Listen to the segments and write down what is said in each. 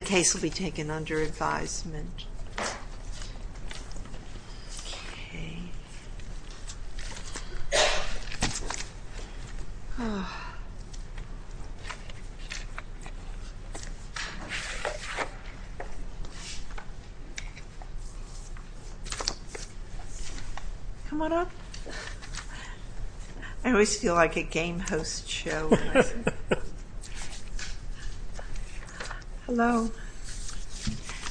The case will be taken under advisement. Come on up. I always feel like a game host show. Hello.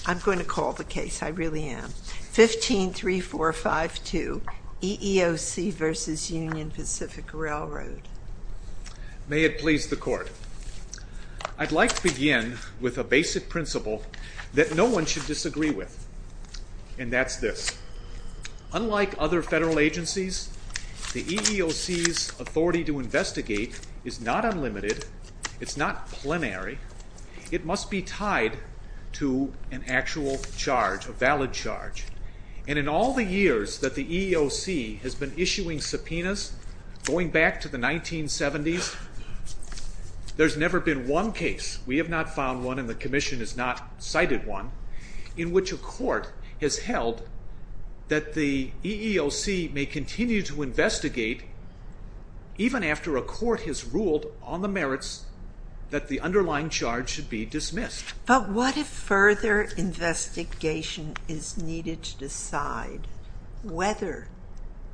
I'm going to call the case. I really am. 15-3452 EEOC v. Union Pacific Railroad. May it please the court. I'd like to begin with a basic principle that no one should disagree with. And that's this. Unlike other federal agencies, the EEOC's authority to investigate is not unlimited. It's not plenary. It must be tied to an actual charge, a valid charge. And in all the years that the EEOC has been issuing subpoenas, going back to the 1970s, there's never been one case, we have not found one and the Commission has not cited one, in which a court has held that the EEOC may continue to investigate even after a court has ruled on the merits that the underlying charge should be dismissed. But what if further investigation is needed to decide whether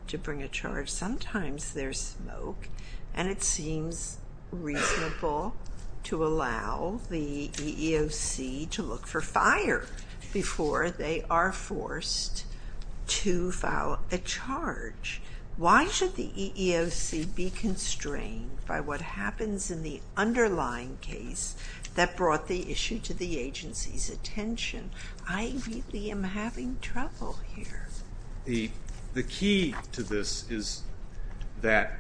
to bring a charge? Sometimes there's smoke and it seems reasonable to allow the EEOC to look for fire before they are forced to file a charge. Why should the EEOC be constrained by what happens in the underlying case that brought the issue to the agency's attention? I really am having trouble here. The key to this is that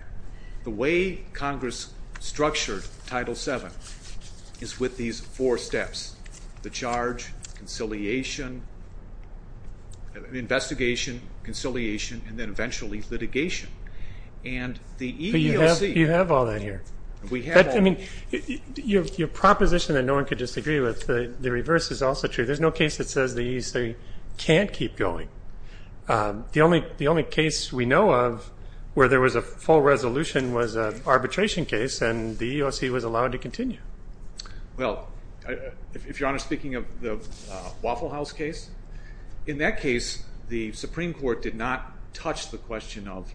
the way Congress structured Title VII is with these four steps, the charge, conciliation, investigation, conciliation, and then eventually litigation. But you have all that here. I mean, your proposition that no one could disagree with, the reverse is also true. There's no case that says the EEOC can't keep going. The only case we know of where there was a full resolution was an arbitration case, and the EEOC was allowed to continue. Well, if you're honest, speaking of the Waffle House case, in that case the Supreme Court did not touch the question of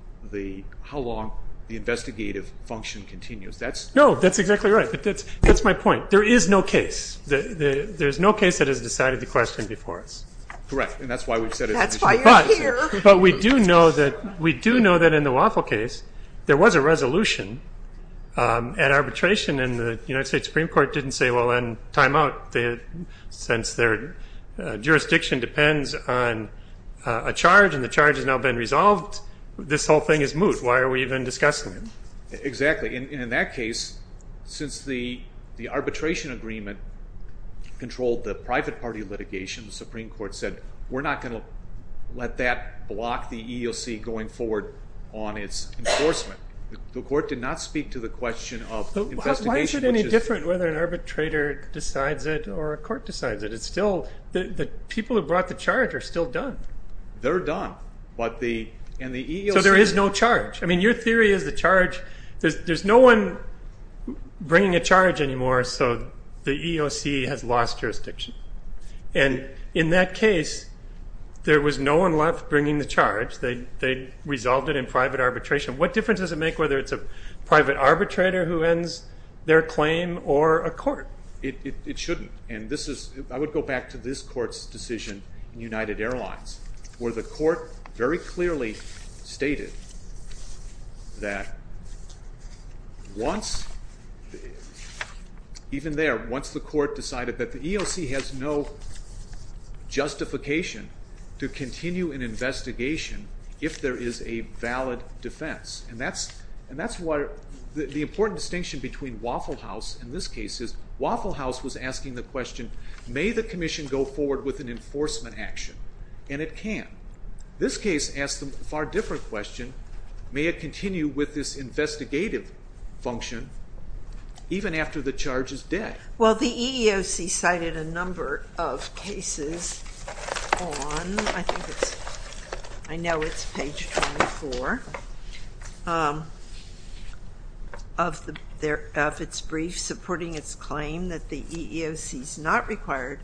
how long the investigative function continues. No, that's exactly right. That's my point. There is no case. There is no case that has decided the question before us. Correct. And that's why we've said it's an issue. That's why you're here. But we do know that in the Waffle case there was a resolution at arbitration, and the United States Supreme Court didn't say, well, then time out. Since their jurisdiction depends on a charge and the charge has now been resolved, this whole thing is moot. Why are we even discussing it? Exactly. In that case, since the arbitration agreement controlled the private party litigation, the Supreme Court said we're not going to let that block the EEOC going forward on its enforcement. The court did not speak to the question of investigation. Why is it any different whether an arbitrator decides it or a court decides it? The people who brought the charge are still done. They're done. So there is no charge. I mean, your theory is the charge, there's no one bringing a charge anymore, so the EEOC has lost jurisdiction. And in that case, there was no one left bringing the charge. They resolved it in private arbitration. What difference does it make whether it's a private arbitrator who ends their claim or a court? It shouldn't. I would go back to this court's decision in United Airlines, where the court very clearly stated that even there, once the court decided that the EEOC has no justification to continue an investigation if there is a valid defense, and that's why the important distinction between Waffle House and this case is Waffle House was asking the question, may the commission go forward with an enforcement action? And it can. This case asks a far different question. May it continue with this investigative function even after the charge is dead? Well, the EEOC cited a number of cases on, I think it's, I know it's page 24, of its brief supporting its claim that the EEOC is not required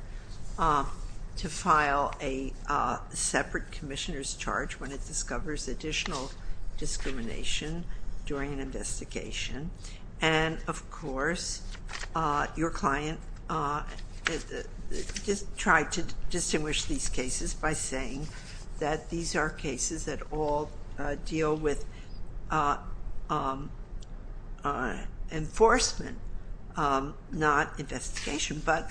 to file a separate commissioner's charge when it discovers additional discrimination during an investigation. And, of course, your client tried to distinguish these cases by saying that these are cases that all deal with enforcement, not investigation. But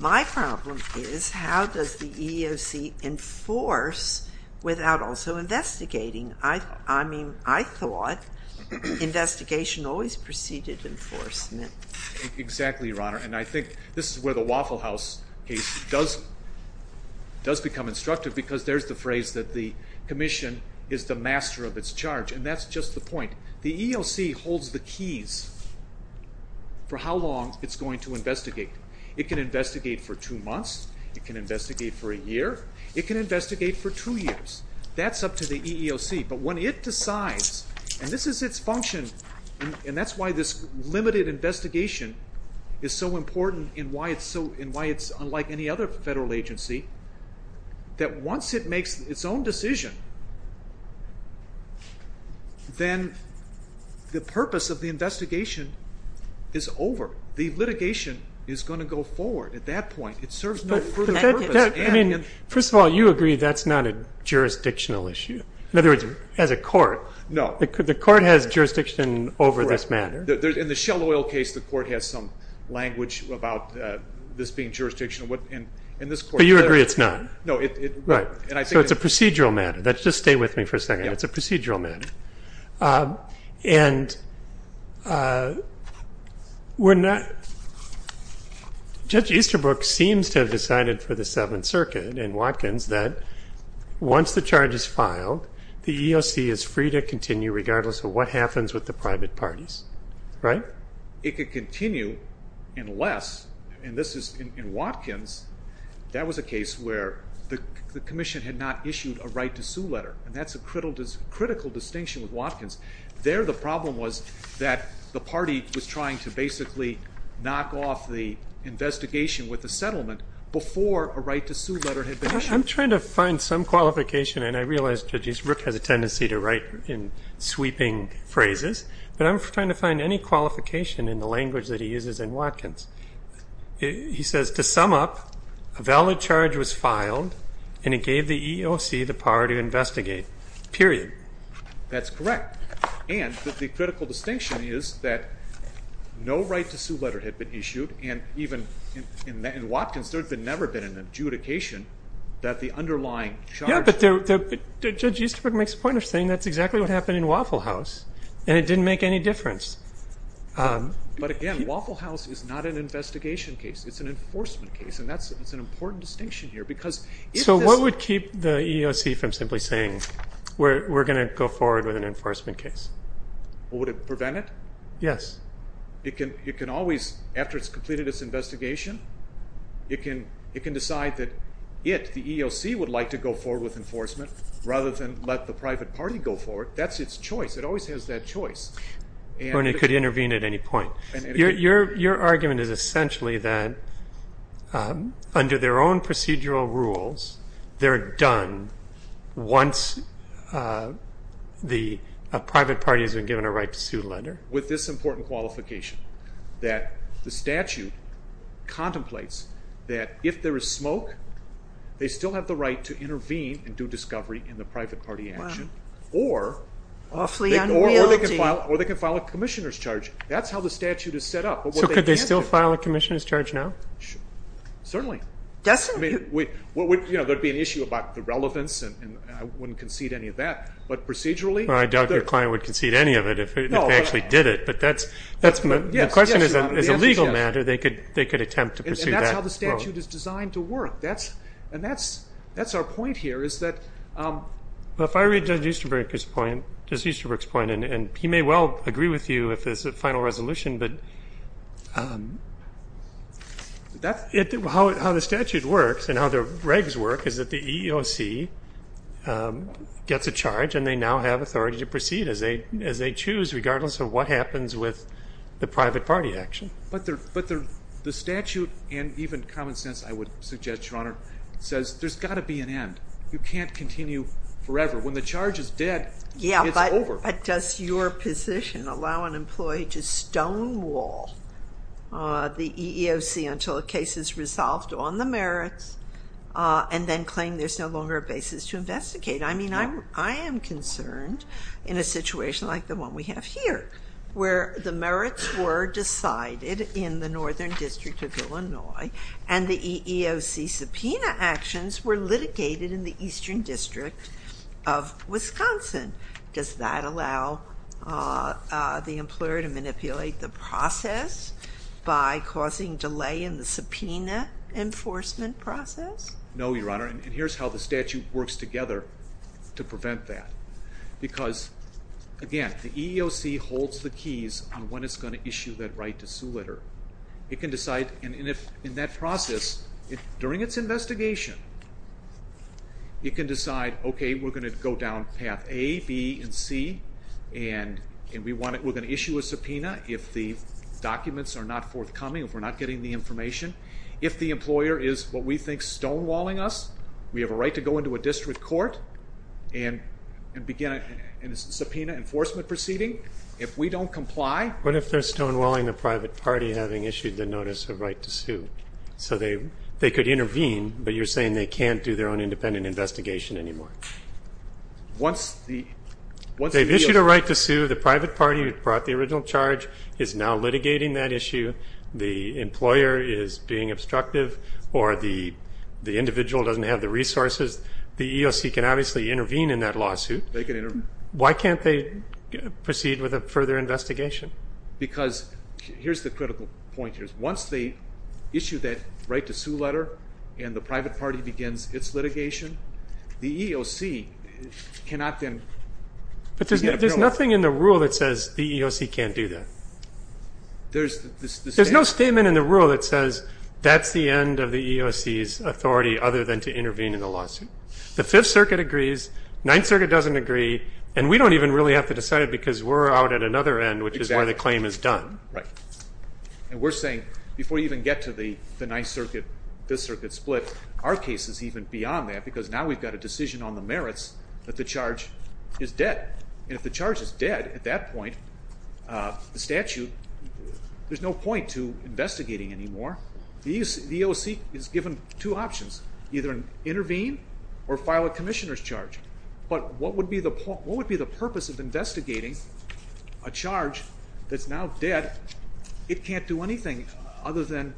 my problem is how does the EEOC enforce without also investigating? I mean, I thought investigation always preceded enforcement. Exactly, Your Honor. And I think this is where the Waffle House case does become instructive because there's the phrase that the commission is the master of its charge, and that's just the point. The EEOC holds the keys for how long it's going to investigate. It can investigate for two months. It can investigate for a year. It can investigate for two years. That's up to the EEOC. But when it decides, and this is its function, and that's why this limited investigation is so important and why it's unlike any other federal agency, that once it makes its own decision, then the purpose of the investigation is over. The litigation is going to go forward at that point. It serves no further purpose. First of all, you agree that's not a jurisdictional issue, in other words, as a court. No. The court has jurisdiction over this matter. In the Shell Oil case, the court has some language about this being jurisdictional. But you agree it's not? No. Right. So it's a procedural matter. Just stay with me for a second. It's a procedural matter. Judge Easterbrook seems to have decided for the Seventh Circuit and Watkins that once the charge is filed, the EEOC is free to continue regardless of what happens with the private parties, right? It could continue unless, and this is in Watkins, that was a case where the commission had not issued a right to sue letter, and that's a critical distinction with Watkins. There the problem was that the party was trying to basically knock off the investigation with the settlement before a right to sue letter had been issued. I'm trying to find some qualification, and I realize, Judge Easterbrook, has a tendency to write in sweeping phrases. But I'm trying to find any qualification in the language that he uses in Watkins. He says, to sum up, a valid charge was filed, and it gave the EEOC the power to investigate, period. That's correct. And the critical distinction is that no right to sue letter had been issued, and even in Watkins there had never been an adjudication that the underlying charge. Yeah, but Judge Easterbrook makes a point of saying that's exactly what happened in Waffle House. And it didn't make any difference. But again, Waffle House is not an investigation case. It's an enforcement case, and that's an important distinction here. So what would keep the EEOC from simply saying, we're going to go forward with an enforcement case? Would it prevent it? Yes. It can always, after it's completed its investigation, it can decide that it, the EEOC, would like to go forward with enforcement rather than let the private party go forward. That's its choice. It always has that choice. Or it could intervene at any point. Your argument is essentially that under their own procedural rules, they're done once the private party has been given a right to sue letter? With this important qualification, that the statute contemplates that if there is smoke, they still have the right to intervene and do discovery in the private party action, or they can file a commissioner's charge. That's how the statute is set up. So could they still file a commissioner's charge now? Certainly. There would be an issue about the relevance, and I wouldn't concede any of that. But procedurally? Well, I doubt your client would concede any of it if they actually did it. But the question is a legal matter. And that's how the statute is designed to work. And that's our point here is that... Well, if I read Judge Easterbrook's point, and he may well agree with you if it's a final resolution, but how the statute works and how the regs work is that the EEOC gets a charge and they now have authority to proceed as they choose, regardless of what happens with the private party action. But the statute and even common sense, I would suggest, Your Honor, says there's got to be an end. You can't continue forever. When the charge is dead, it's over. Yeah, but does your position allow an employee to stonewall the EEOC until a case is resolved on the merits and then claim there's no longer a basis to investigate? I mean, I am concerned in a situation like the one we have here where the merits were decided in the Northern District of Illinois and the EEOC subpoena actions were litigated in the Eastern District of Wisconsin. Does that allow the employer to manipulate the process by causing delay in the subpoena enforcement process? No, Your Honor. And here's how the statute works together to prevent that. Because, again, the EEOC holds the keys on when it's going to issue that right to Sue Litter. It can decide, and in that process, during its investigation, it can decide, okay, we're going to go down path A, B, and C, and we're going to issue a subpoena if the documents are not forthcoming, if we're not getting the information. If the employer is what we think stonewalling us, we have a right to go into a district court and begin a subpoena enforcement proceeding. If we don't comply. What if they're stonewalling the private party having issued the notice of right to sue? So they could intervene, but you're saying they can't do their own independent investigation anymore? They've issued a right to sue. The private party who brought the original charge is now litigating that issue. The employer is being obstructive, or the individual doesn't have the resources. The EEOC can obviously intervene in that lawsuit. They can intervene. Why can't they proceed with a further investigation? Because here's the critical point here. Once they issue that right to sue letter and the private party begins its litigation, the EEOC cannot then do that. But there's nothing in the rule that says the EEOC can't do that. There's no statement in the rule that says that's the end of the EEOC's authority other than to intervene in the lawsuit. The Fifth Circuit agrees. Ninth Circuit doesn't agree. And we don't even really have to decide it because we're out at another end, which is where the claim is done. Right. And we're saying before you even get to the Ninth Circuit-Fifth Circuit split, our case is even beyond that because now we've got a decision on the merits that the charge is dead. And if the charge is dead, at that point, the statute, there's no point to investigating anymore. The EEOC is given two options, either intervene or file a commissioner's charge. But what would be the purpose of investigating a charge that's now dead? It can't do anything other than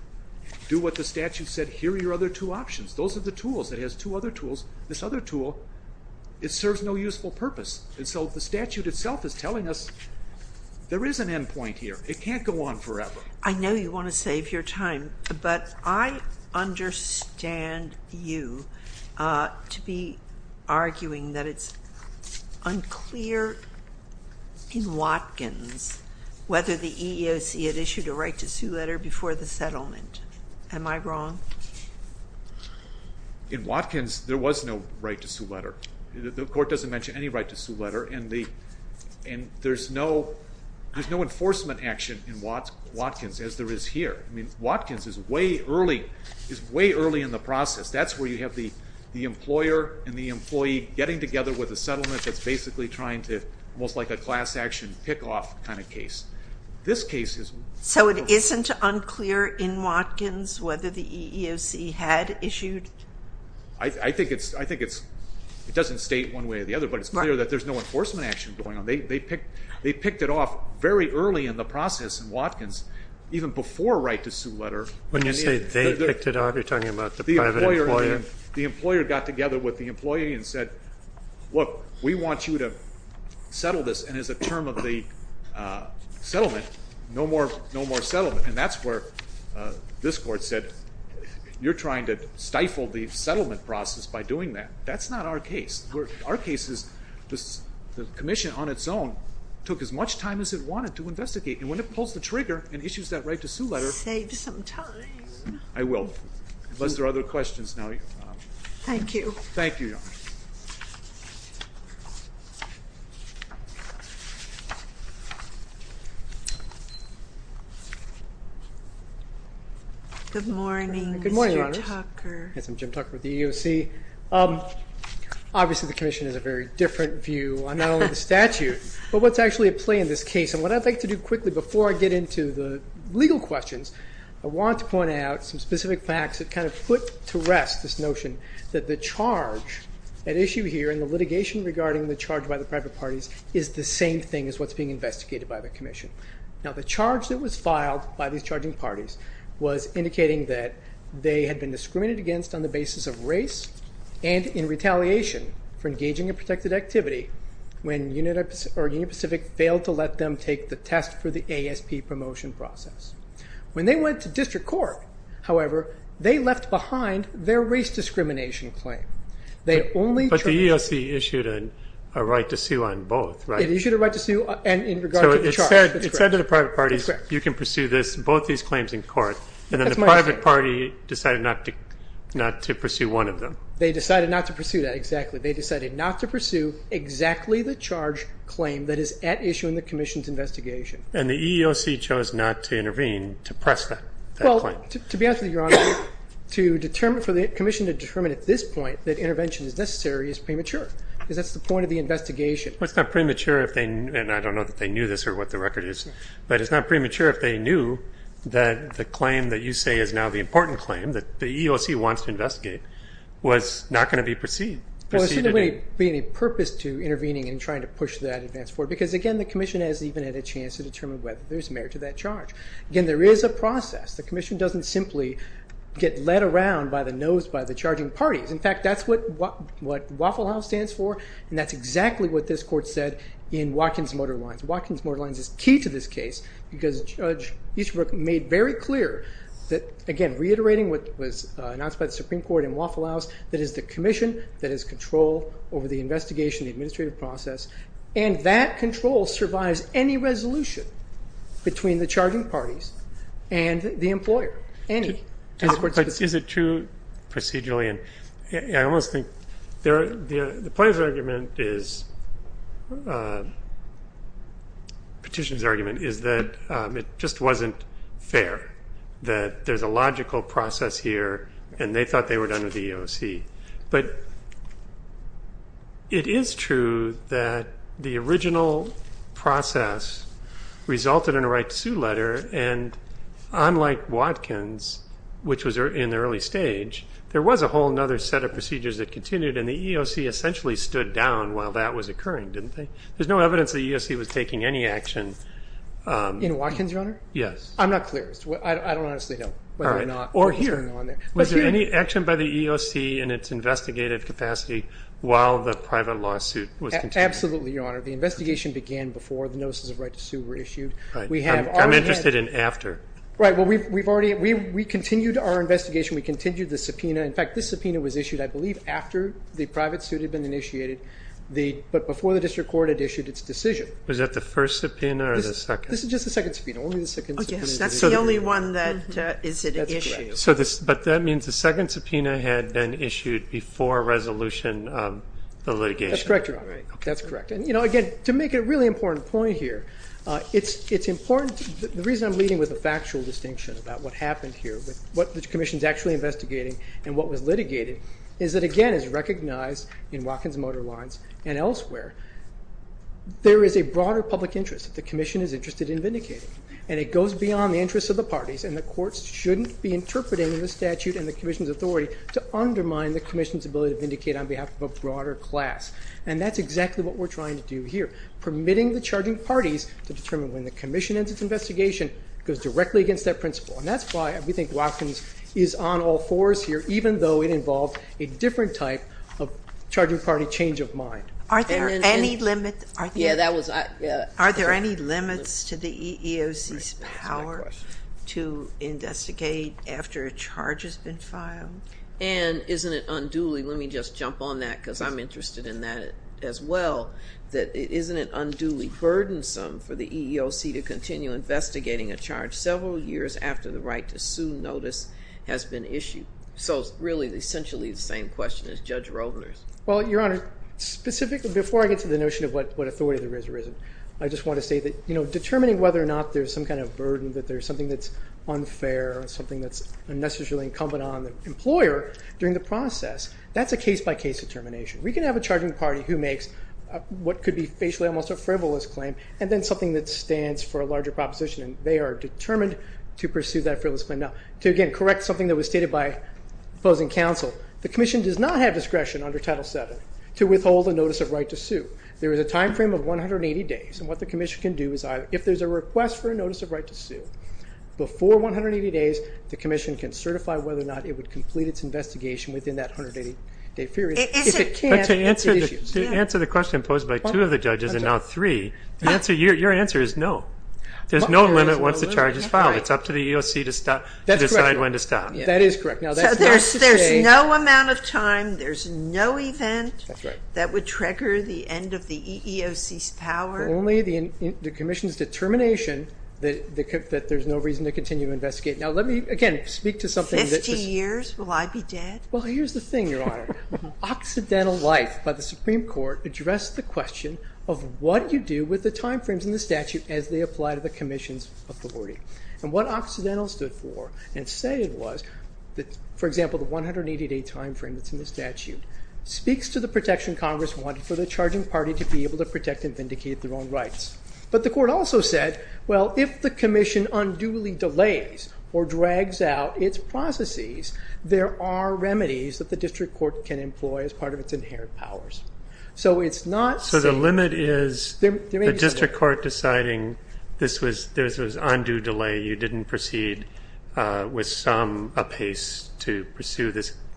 do what the statute said. Here are your other two options. Those are the tools. It has two other tools. This other tool, it serves no useful purpose. And so the statute itself is telling us there is an end point here. It can't go on forever. I know you want to save your time, but I understand you to be arguing that it's unclear in Watkins whether the EEOC had issued a right-to-sue letter before the settlement. Am I wrong? In Watkins, there was no right-to-sue letter. The court doesn't mention any right-to-sue letter. And there's no enforcement action in Watkins, as there is here. I mean, Watkins is way early in the process. That's where you have the employer and the employee getting together with a settlement that's basically trying to, almost like a class action pick-off kind of case. This case is... So it isn't unclear in Watkins whether the EEOC had issued... I think it doesn't state one way or the other, but it's clear that there's no enforcement action going on. They picked it off very early in the process in Watkins, even before right-to-sue letter. When you say they picked it off, you're talking about the private employer? The employer got together with the employee and said, look, we want you to settle this, and as a term of the settlement, no more settlement. And that's where this court said, you're trying to stifle the settlement process by doing that. That's not our case. Our case is the commission on its own took as much time as it wanted to investigate, and when it pulls the trigger and issues that right-to-sue letter... Save some time. I will, unless there are other questions now. Thank you. Thank you, Your Honor. Good morning, Mr. Tucker. Good morning, Your Honor. Yes, I'm Jim Tucker with the EEOC. Obviously the commission has a very different view on not only the statute, but what's actually at play in this case, and what I'd like to do quickly before I get into the legal questions, I want to point out some specific facts that kind of put to rest this notion that the charge at issue here and the litigation regarding the charge by the private parties is the same thing as what's being investigated by the commission. Now, the charge that was filed by these charging parties was indicating that they had been discriminated against on the basis of race and in retaliation for engaging in protected activity when Union Pacific failed to let them take the test for the ASP promotion process. When they went to district court, however, they left behind their race discrimination claim. But the EEOC issued a right-to-sue on both, right? It issued a right-to-sue in regard to the charge. So it said to the private parties, you can pursue this, both these claims in court, and then the private party decided not to pursue one of them. They decided not to pursue that, exactly. They decided not to pursue exactly the charge claim that is at issue in the commission's investigation. And the EEOC chose not to intervene to press that claim. Well, to be honest with you, Your Honor, to determine for the commission to determine at this point that intervention is necessary is premature, because that's the point of the investigation. Well, it's not premature if they knew, and I don't know if they knew this or what the record is, but it's not premature if they knew that the claim that you say is now the important claim that the EEOC wants to investigate was not going to be pursued. Well, there shouldn't be any purpose to intervening in trying to push that advance forward, because, again, the commission hasn't even had a chance to determine whether there's merit to that charge. Again, there is a process. The commission doesn't simply get led around by the nose by the charging parties. In fact, that's what Waffle House stands for, and that's exactly what this Court said in Watkins Motor Lines. Watkins Motor Lines is key to this case, because Judge Easterbrook made very clear that, again, reiterating what was announced by the Supreme Court in Waffle House, that is the commission that has control over the investigation, the administrative process, and that control survives any resolution between the charging parties and the employer, any. But is it true procedurally? I almost think the plaintiff's argument is, petitioner's argument is that it just wasn't fair, that there's a logical process here, and they thought they were done with the EEOC. But it is true that the original process resulted in a right to sue letter, and unlike Watkins, which was in the early stage, there was a whole other set of procedures that continued, and the EEOC essentially stood down while that was occurring, didn't they? There's no evidence the EEOC was taking any action. In Watkins, Your Honor? Yes. I'm not clear. I don't honestly know whether or not what was going on there. Was there any action by the EEOC in its investigative capacity while the private lawsuit was continuing? The investigation began before the notices of right to sue were issued. Right. I'm interested in after. Right. Well, we continued our investigation. We continued the subpoena. In fact, this subpoena was issued, I believe, after the private suit had been initiated, but before the district court had issued its decision. Was that the first subpoena or the second? This is just the second subpoena. Only the second subpoena. Oh, yes. That's the only one that is at issue. That's correct. But that means the second subpoena had been issued before resolution of the litigation. That's correct, Your Honor. That's correct. And, you know, again, to make a really important point here, it's important. The reason I'm leading with a factual distinction about what happened here, what the commission is actually investigating and what was litigated, is that, again, as recognized in Watkins Motor Lines and elsewhere, there is a broader public interest that the commission is interested in vindicating. And it goes beyond the interests of the parties, and the courts shouldn't be interpreting the statute and the commission's authority to undermine the commission's ability to vindicate on behalf of a broader class. And that's exactly what we're trying to do here, permitting the charging parties to determine when the commission ends its investigation goes directly against that principle. And that's why we think Watkins is on all fours here, even though it involved a different type of charging party change of mind. Are there any limits to the EEOC's power to investigate after a charge has been filed? And isn't it unduly? Let me just jump on that because I'm interested in that as well. Isn't it unduly burdensome for the EEOC to continue investigating a charge several years after the right to sue notice has been issued? So it's really essentially the same question as Judge Roedler's. Well, Your Honor, specifically, before I get to the notion of what authority there is or isn't, I just want to say that determining whether or not there's some kind of burden, that there's something that's unfair, something that's unnecessarily incumbent on the employer during the process, that's a case-by-case determination. We can have a charging party who makes what could be facially almost a frivolous claim and then something that stands for a larger proposition, and they are determined to pursue that frivolous claim. Now, to again correct something that was stated by opposing counsel, the commission does not have discretion under Title VII to withhold a notice of right to sue. There is a time frame of 180 days, and what the commission can do is if there's a request for a notice of right to sue, before 180 days the commission can certify whether or not it would complete its investigation within that 180-day period. But to answer the question posed by two of the judges and now three, your answer is no. There's no limit once the charge is filed. It's up to the EEOC to decide when to stop. That is correct. So there's no amount of time, there's no event that would trigger the end of the EEOC's power? Only the commission's determination that there's no reason to continue to investigate. Now, let me again speak to something that... Fifty years? Will I be dead? Well, here's the thing, Your Honor. Occidental life, by the Supreme Court, addressed the question of what you do with the time frames in the statute as they apply to the commission's authority. And what Occidental stood for and said it was, for example, the 180-day time frame that's in the statute, speaks to the protection Congress wanted for the charging party to be able to protect and vindicate their own rights. But the court also said, well, if the commission unduly delays or drags out its processes, there are remedies that the district court can employ as part of its inherent powers. So it's not... So the limit is the district court deciding this was undue delay, you didn't proceed with some apace to pursue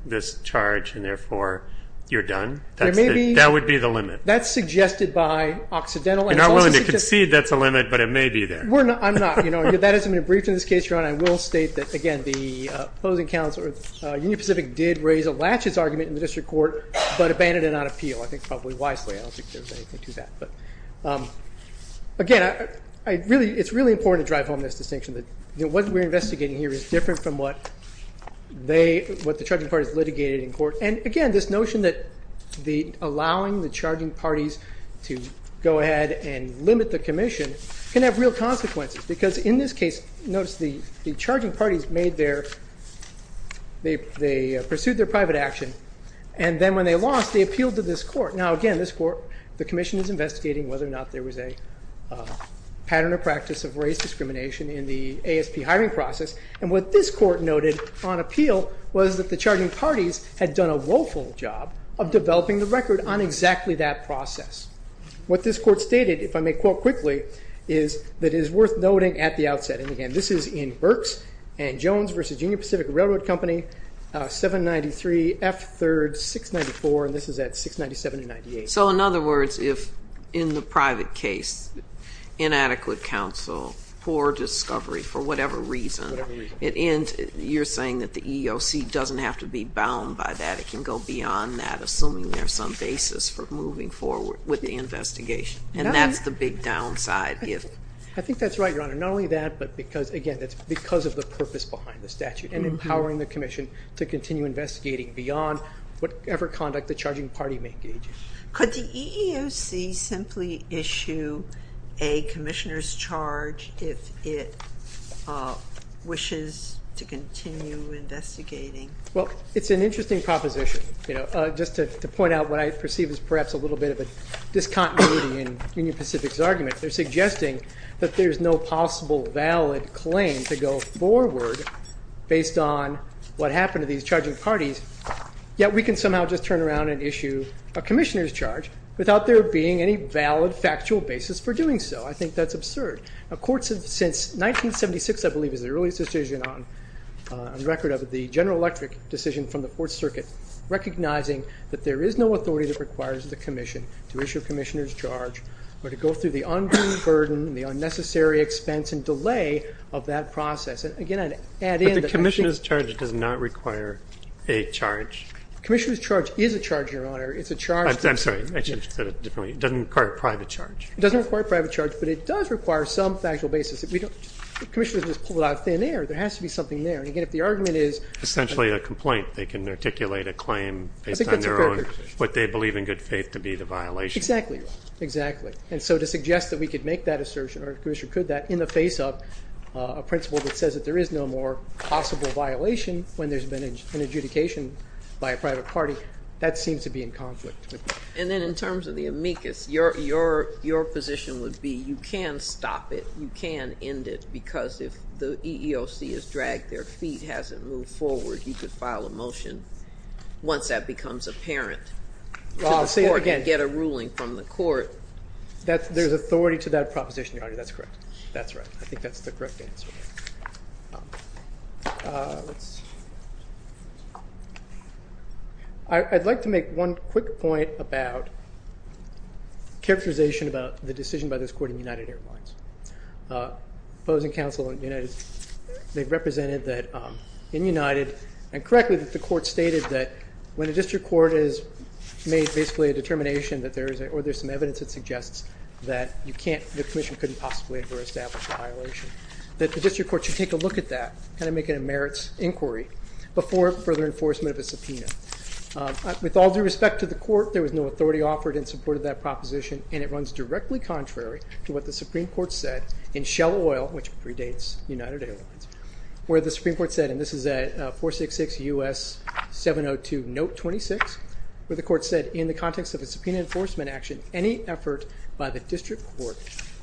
this charge, and therefore you're done? That would be the limit? That's suggested by Occidental. You're not willing to concede that's a limit, but it may be there. I'm not. That hasn't been briefed in this case, Your Honor. I will state that, again, the opposing counsel, Union Pacific, did raise a latches argument in the district court, but abandoned it on appeal, I think probably wisely. I don't think there was anything to that. Again, it's really important to drive home this distinction that what we're investigating here is different from what they, what the charging party has litigated in court. And, again, this notion that allowing the charging parties to go ahead and limit the commission can have real consequences, because in this case, notice the charging parties made their, they pursued their private action, and then when they lost, they appealed to this court. Now, again, this court, the commission is investigating whether or not there was a pattern or practice of race discrimination in the ASP hiring process, and what this court noted on appeal was that the charging parties had done a woeful job of developing the record on exactly that process. What this court stated, if I may quote quickly, is that it is worth noting at the outset, and, again, this is in Berks and Jones v. Union Pacific Railroad Company, 793 F. 3rd, 694, and this is at 697 and 98. So, in other words, if in the private case, inadequate counsel, poor discovery for whatever reason, you're saying that the EEOC doesn't have to be bound by that. It can go beyond that, assuming there's some basis for moving forward with the investigation, and that's the big downside. I think that's right, Your Honor. Not only that, but because, again, that's because of the purpose behind the statute and empowering the commission to continue investigating beyond whatever conduct the charging party may engage in. Could the EEOC simply issue a commissioner's charge if it wishes to continue investigating? Well, it's an interesting proposition. Just to point out what I perceive as perhaps a little bit of a discontinuity in Union Pacific's argument. They're suggesting that there's no possible valid claim to go forward based on what happened to these charging parties, yet we can somehow just turn around and issue a commissioner's charge without there being any valid factual basis for doing so. I think that's absurd. Since 1976, I believe, is the earliest decision on record of the General Electric decision from the Fourth Circuit recognizing that there is no authority that requires the commission to issue a commissioner's charge or to go through the undue burden and the unnecessary expense and delay of that process. But the commissioner's charge does not require a charge. Commissioner's charge is a charge, Your Honor. I'm sorry. I should have said it differently. It doesn't require a private charge. It doesn't require a private charge, but it does require some factual basis. The commissioner just pulled it out of thin air. There has to be something there. Again, if the argument is... Essentially a complaint. They can articulate a claim based on their own, what they believe in good faith to be the violation. Exactly, Your Honor. Exactly. And so to suggest that we could make that assertion or the commissioner could that in the face of a principle that says that there is no more possible violation when there's been an adjudication by a private party, that seems to be in conflict with me. And then in terms of the amicus, your position would be you can stop it. You can end it because if the EEOC has dragged their feet, hasn't moved forward, you could file a motion once that becomes apparent to the court and get a ruling from the court. There's authority to that proposition, Your Honor. That's correct. That's right. I think that's the correct answer. Let's see. I'd like to make one quick point about characterization about the decision by this court in United Airlines. Opposing counsel in United, they've represented that in United and correctly that the court stated that when a district court has made basically a determination that there is or there's some evidence that suggests that you can't, the commission couldn't possibly ever establish a violation, that the district court should take a look at that, kind of make it a merits inquiry before further enforcement of a subpoena. With all due respect to the court, there was no authority offered in support of that proposition and it runs directly contrary to what the Supreme Court said in Shell Oil, which predates United Airlines, where the Supreme Court said, and this is at 466 U.S. 702 Note 26, where the court said in the context of a subpoena enforcement action, any effort by the district court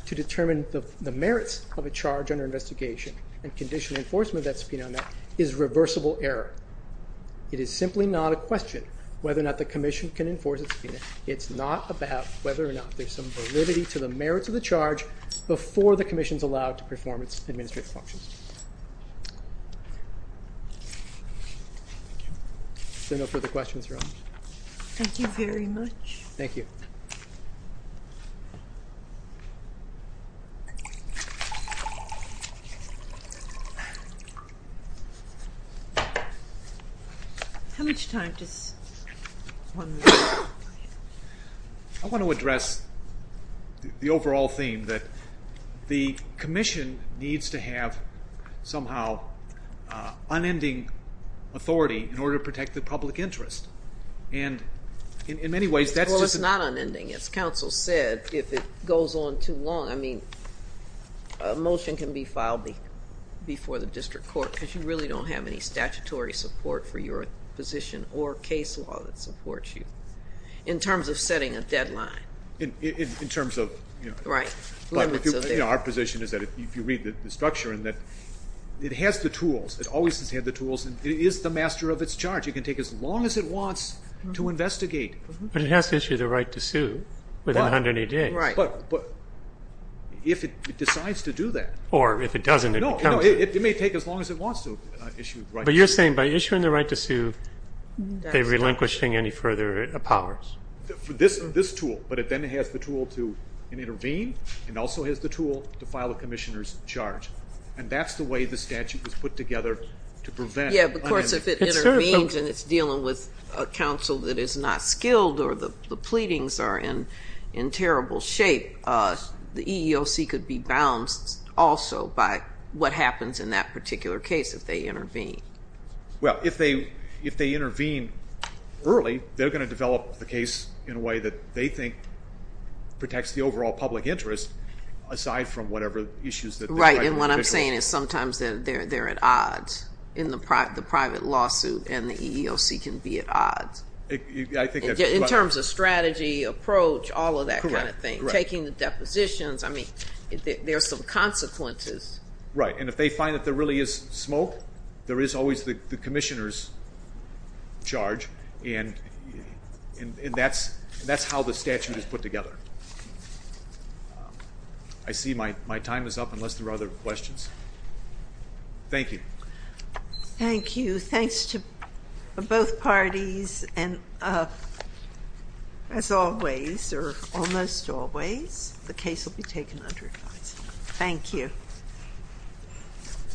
to determine the merits of a charge under investigation and condition enforcement of that subpoena is reversible error. It is simply not a question whether or not the commission can enforce a subpoena, it's not about whether or not there's some validity to the merits of the charge before the commission is allowed to perform its administrative functions. So no further questions, Your Honor. Thank you very much. Thank you. Thank you. How much time? I want to address the overall theme that the commission needs to have somehow unending authority in order to protect the public interest. And in many ways that's just... Well, it's not unending. As counsel said, if it goes on too long, I mean a motion can be filed before the district court because you really don't have any statutory support for your position or case law that supports you in terms of setting a deadline. In terms of... Right. Our position is that if you read the structure and that it has the tools, it always has had the tools, and it is the master of its charge. It can take as long as it wants to investigate. But it has to issue the right to sue within 180 days. Right. But if it decides to do that... Or if it doesn't, it becomes... No, it may take as long as it wants to issue the right to sue. But you're saying by issuing the right to sue, they're relinquishing any further powers. This tool, but it then has the tool to intervene and also has the tool to file a commissioner's charge. And that's the way the statute was put together to prevent unending... Yeah, but of course if it intervenes and it's dealing with a counsel that is not skilled or the pleadings are in terrible shape, the EEOC could be bounced also by what happens in that particular case if they intervene. Well, if they intervene early, they're going to develop the case in a way that they think protects the overall public interest aside from whatever issues... Right. And what I'm saying is sometimes they're at odds in the private lawsuit, and the EEOC can be at odds in terms of strategy, approach, all of that kind of thing. Correct. Taking the depositions, I mean, there are some consequences. Right. And if they find that there really is smoke, there is always the commissioner's charge, and that's how the statute is put together. I see my time is up unless there are other questions. Thank you. Thank you. Thanks to both parties. And as always, or almost always, the case will be taken under advice. Thank you.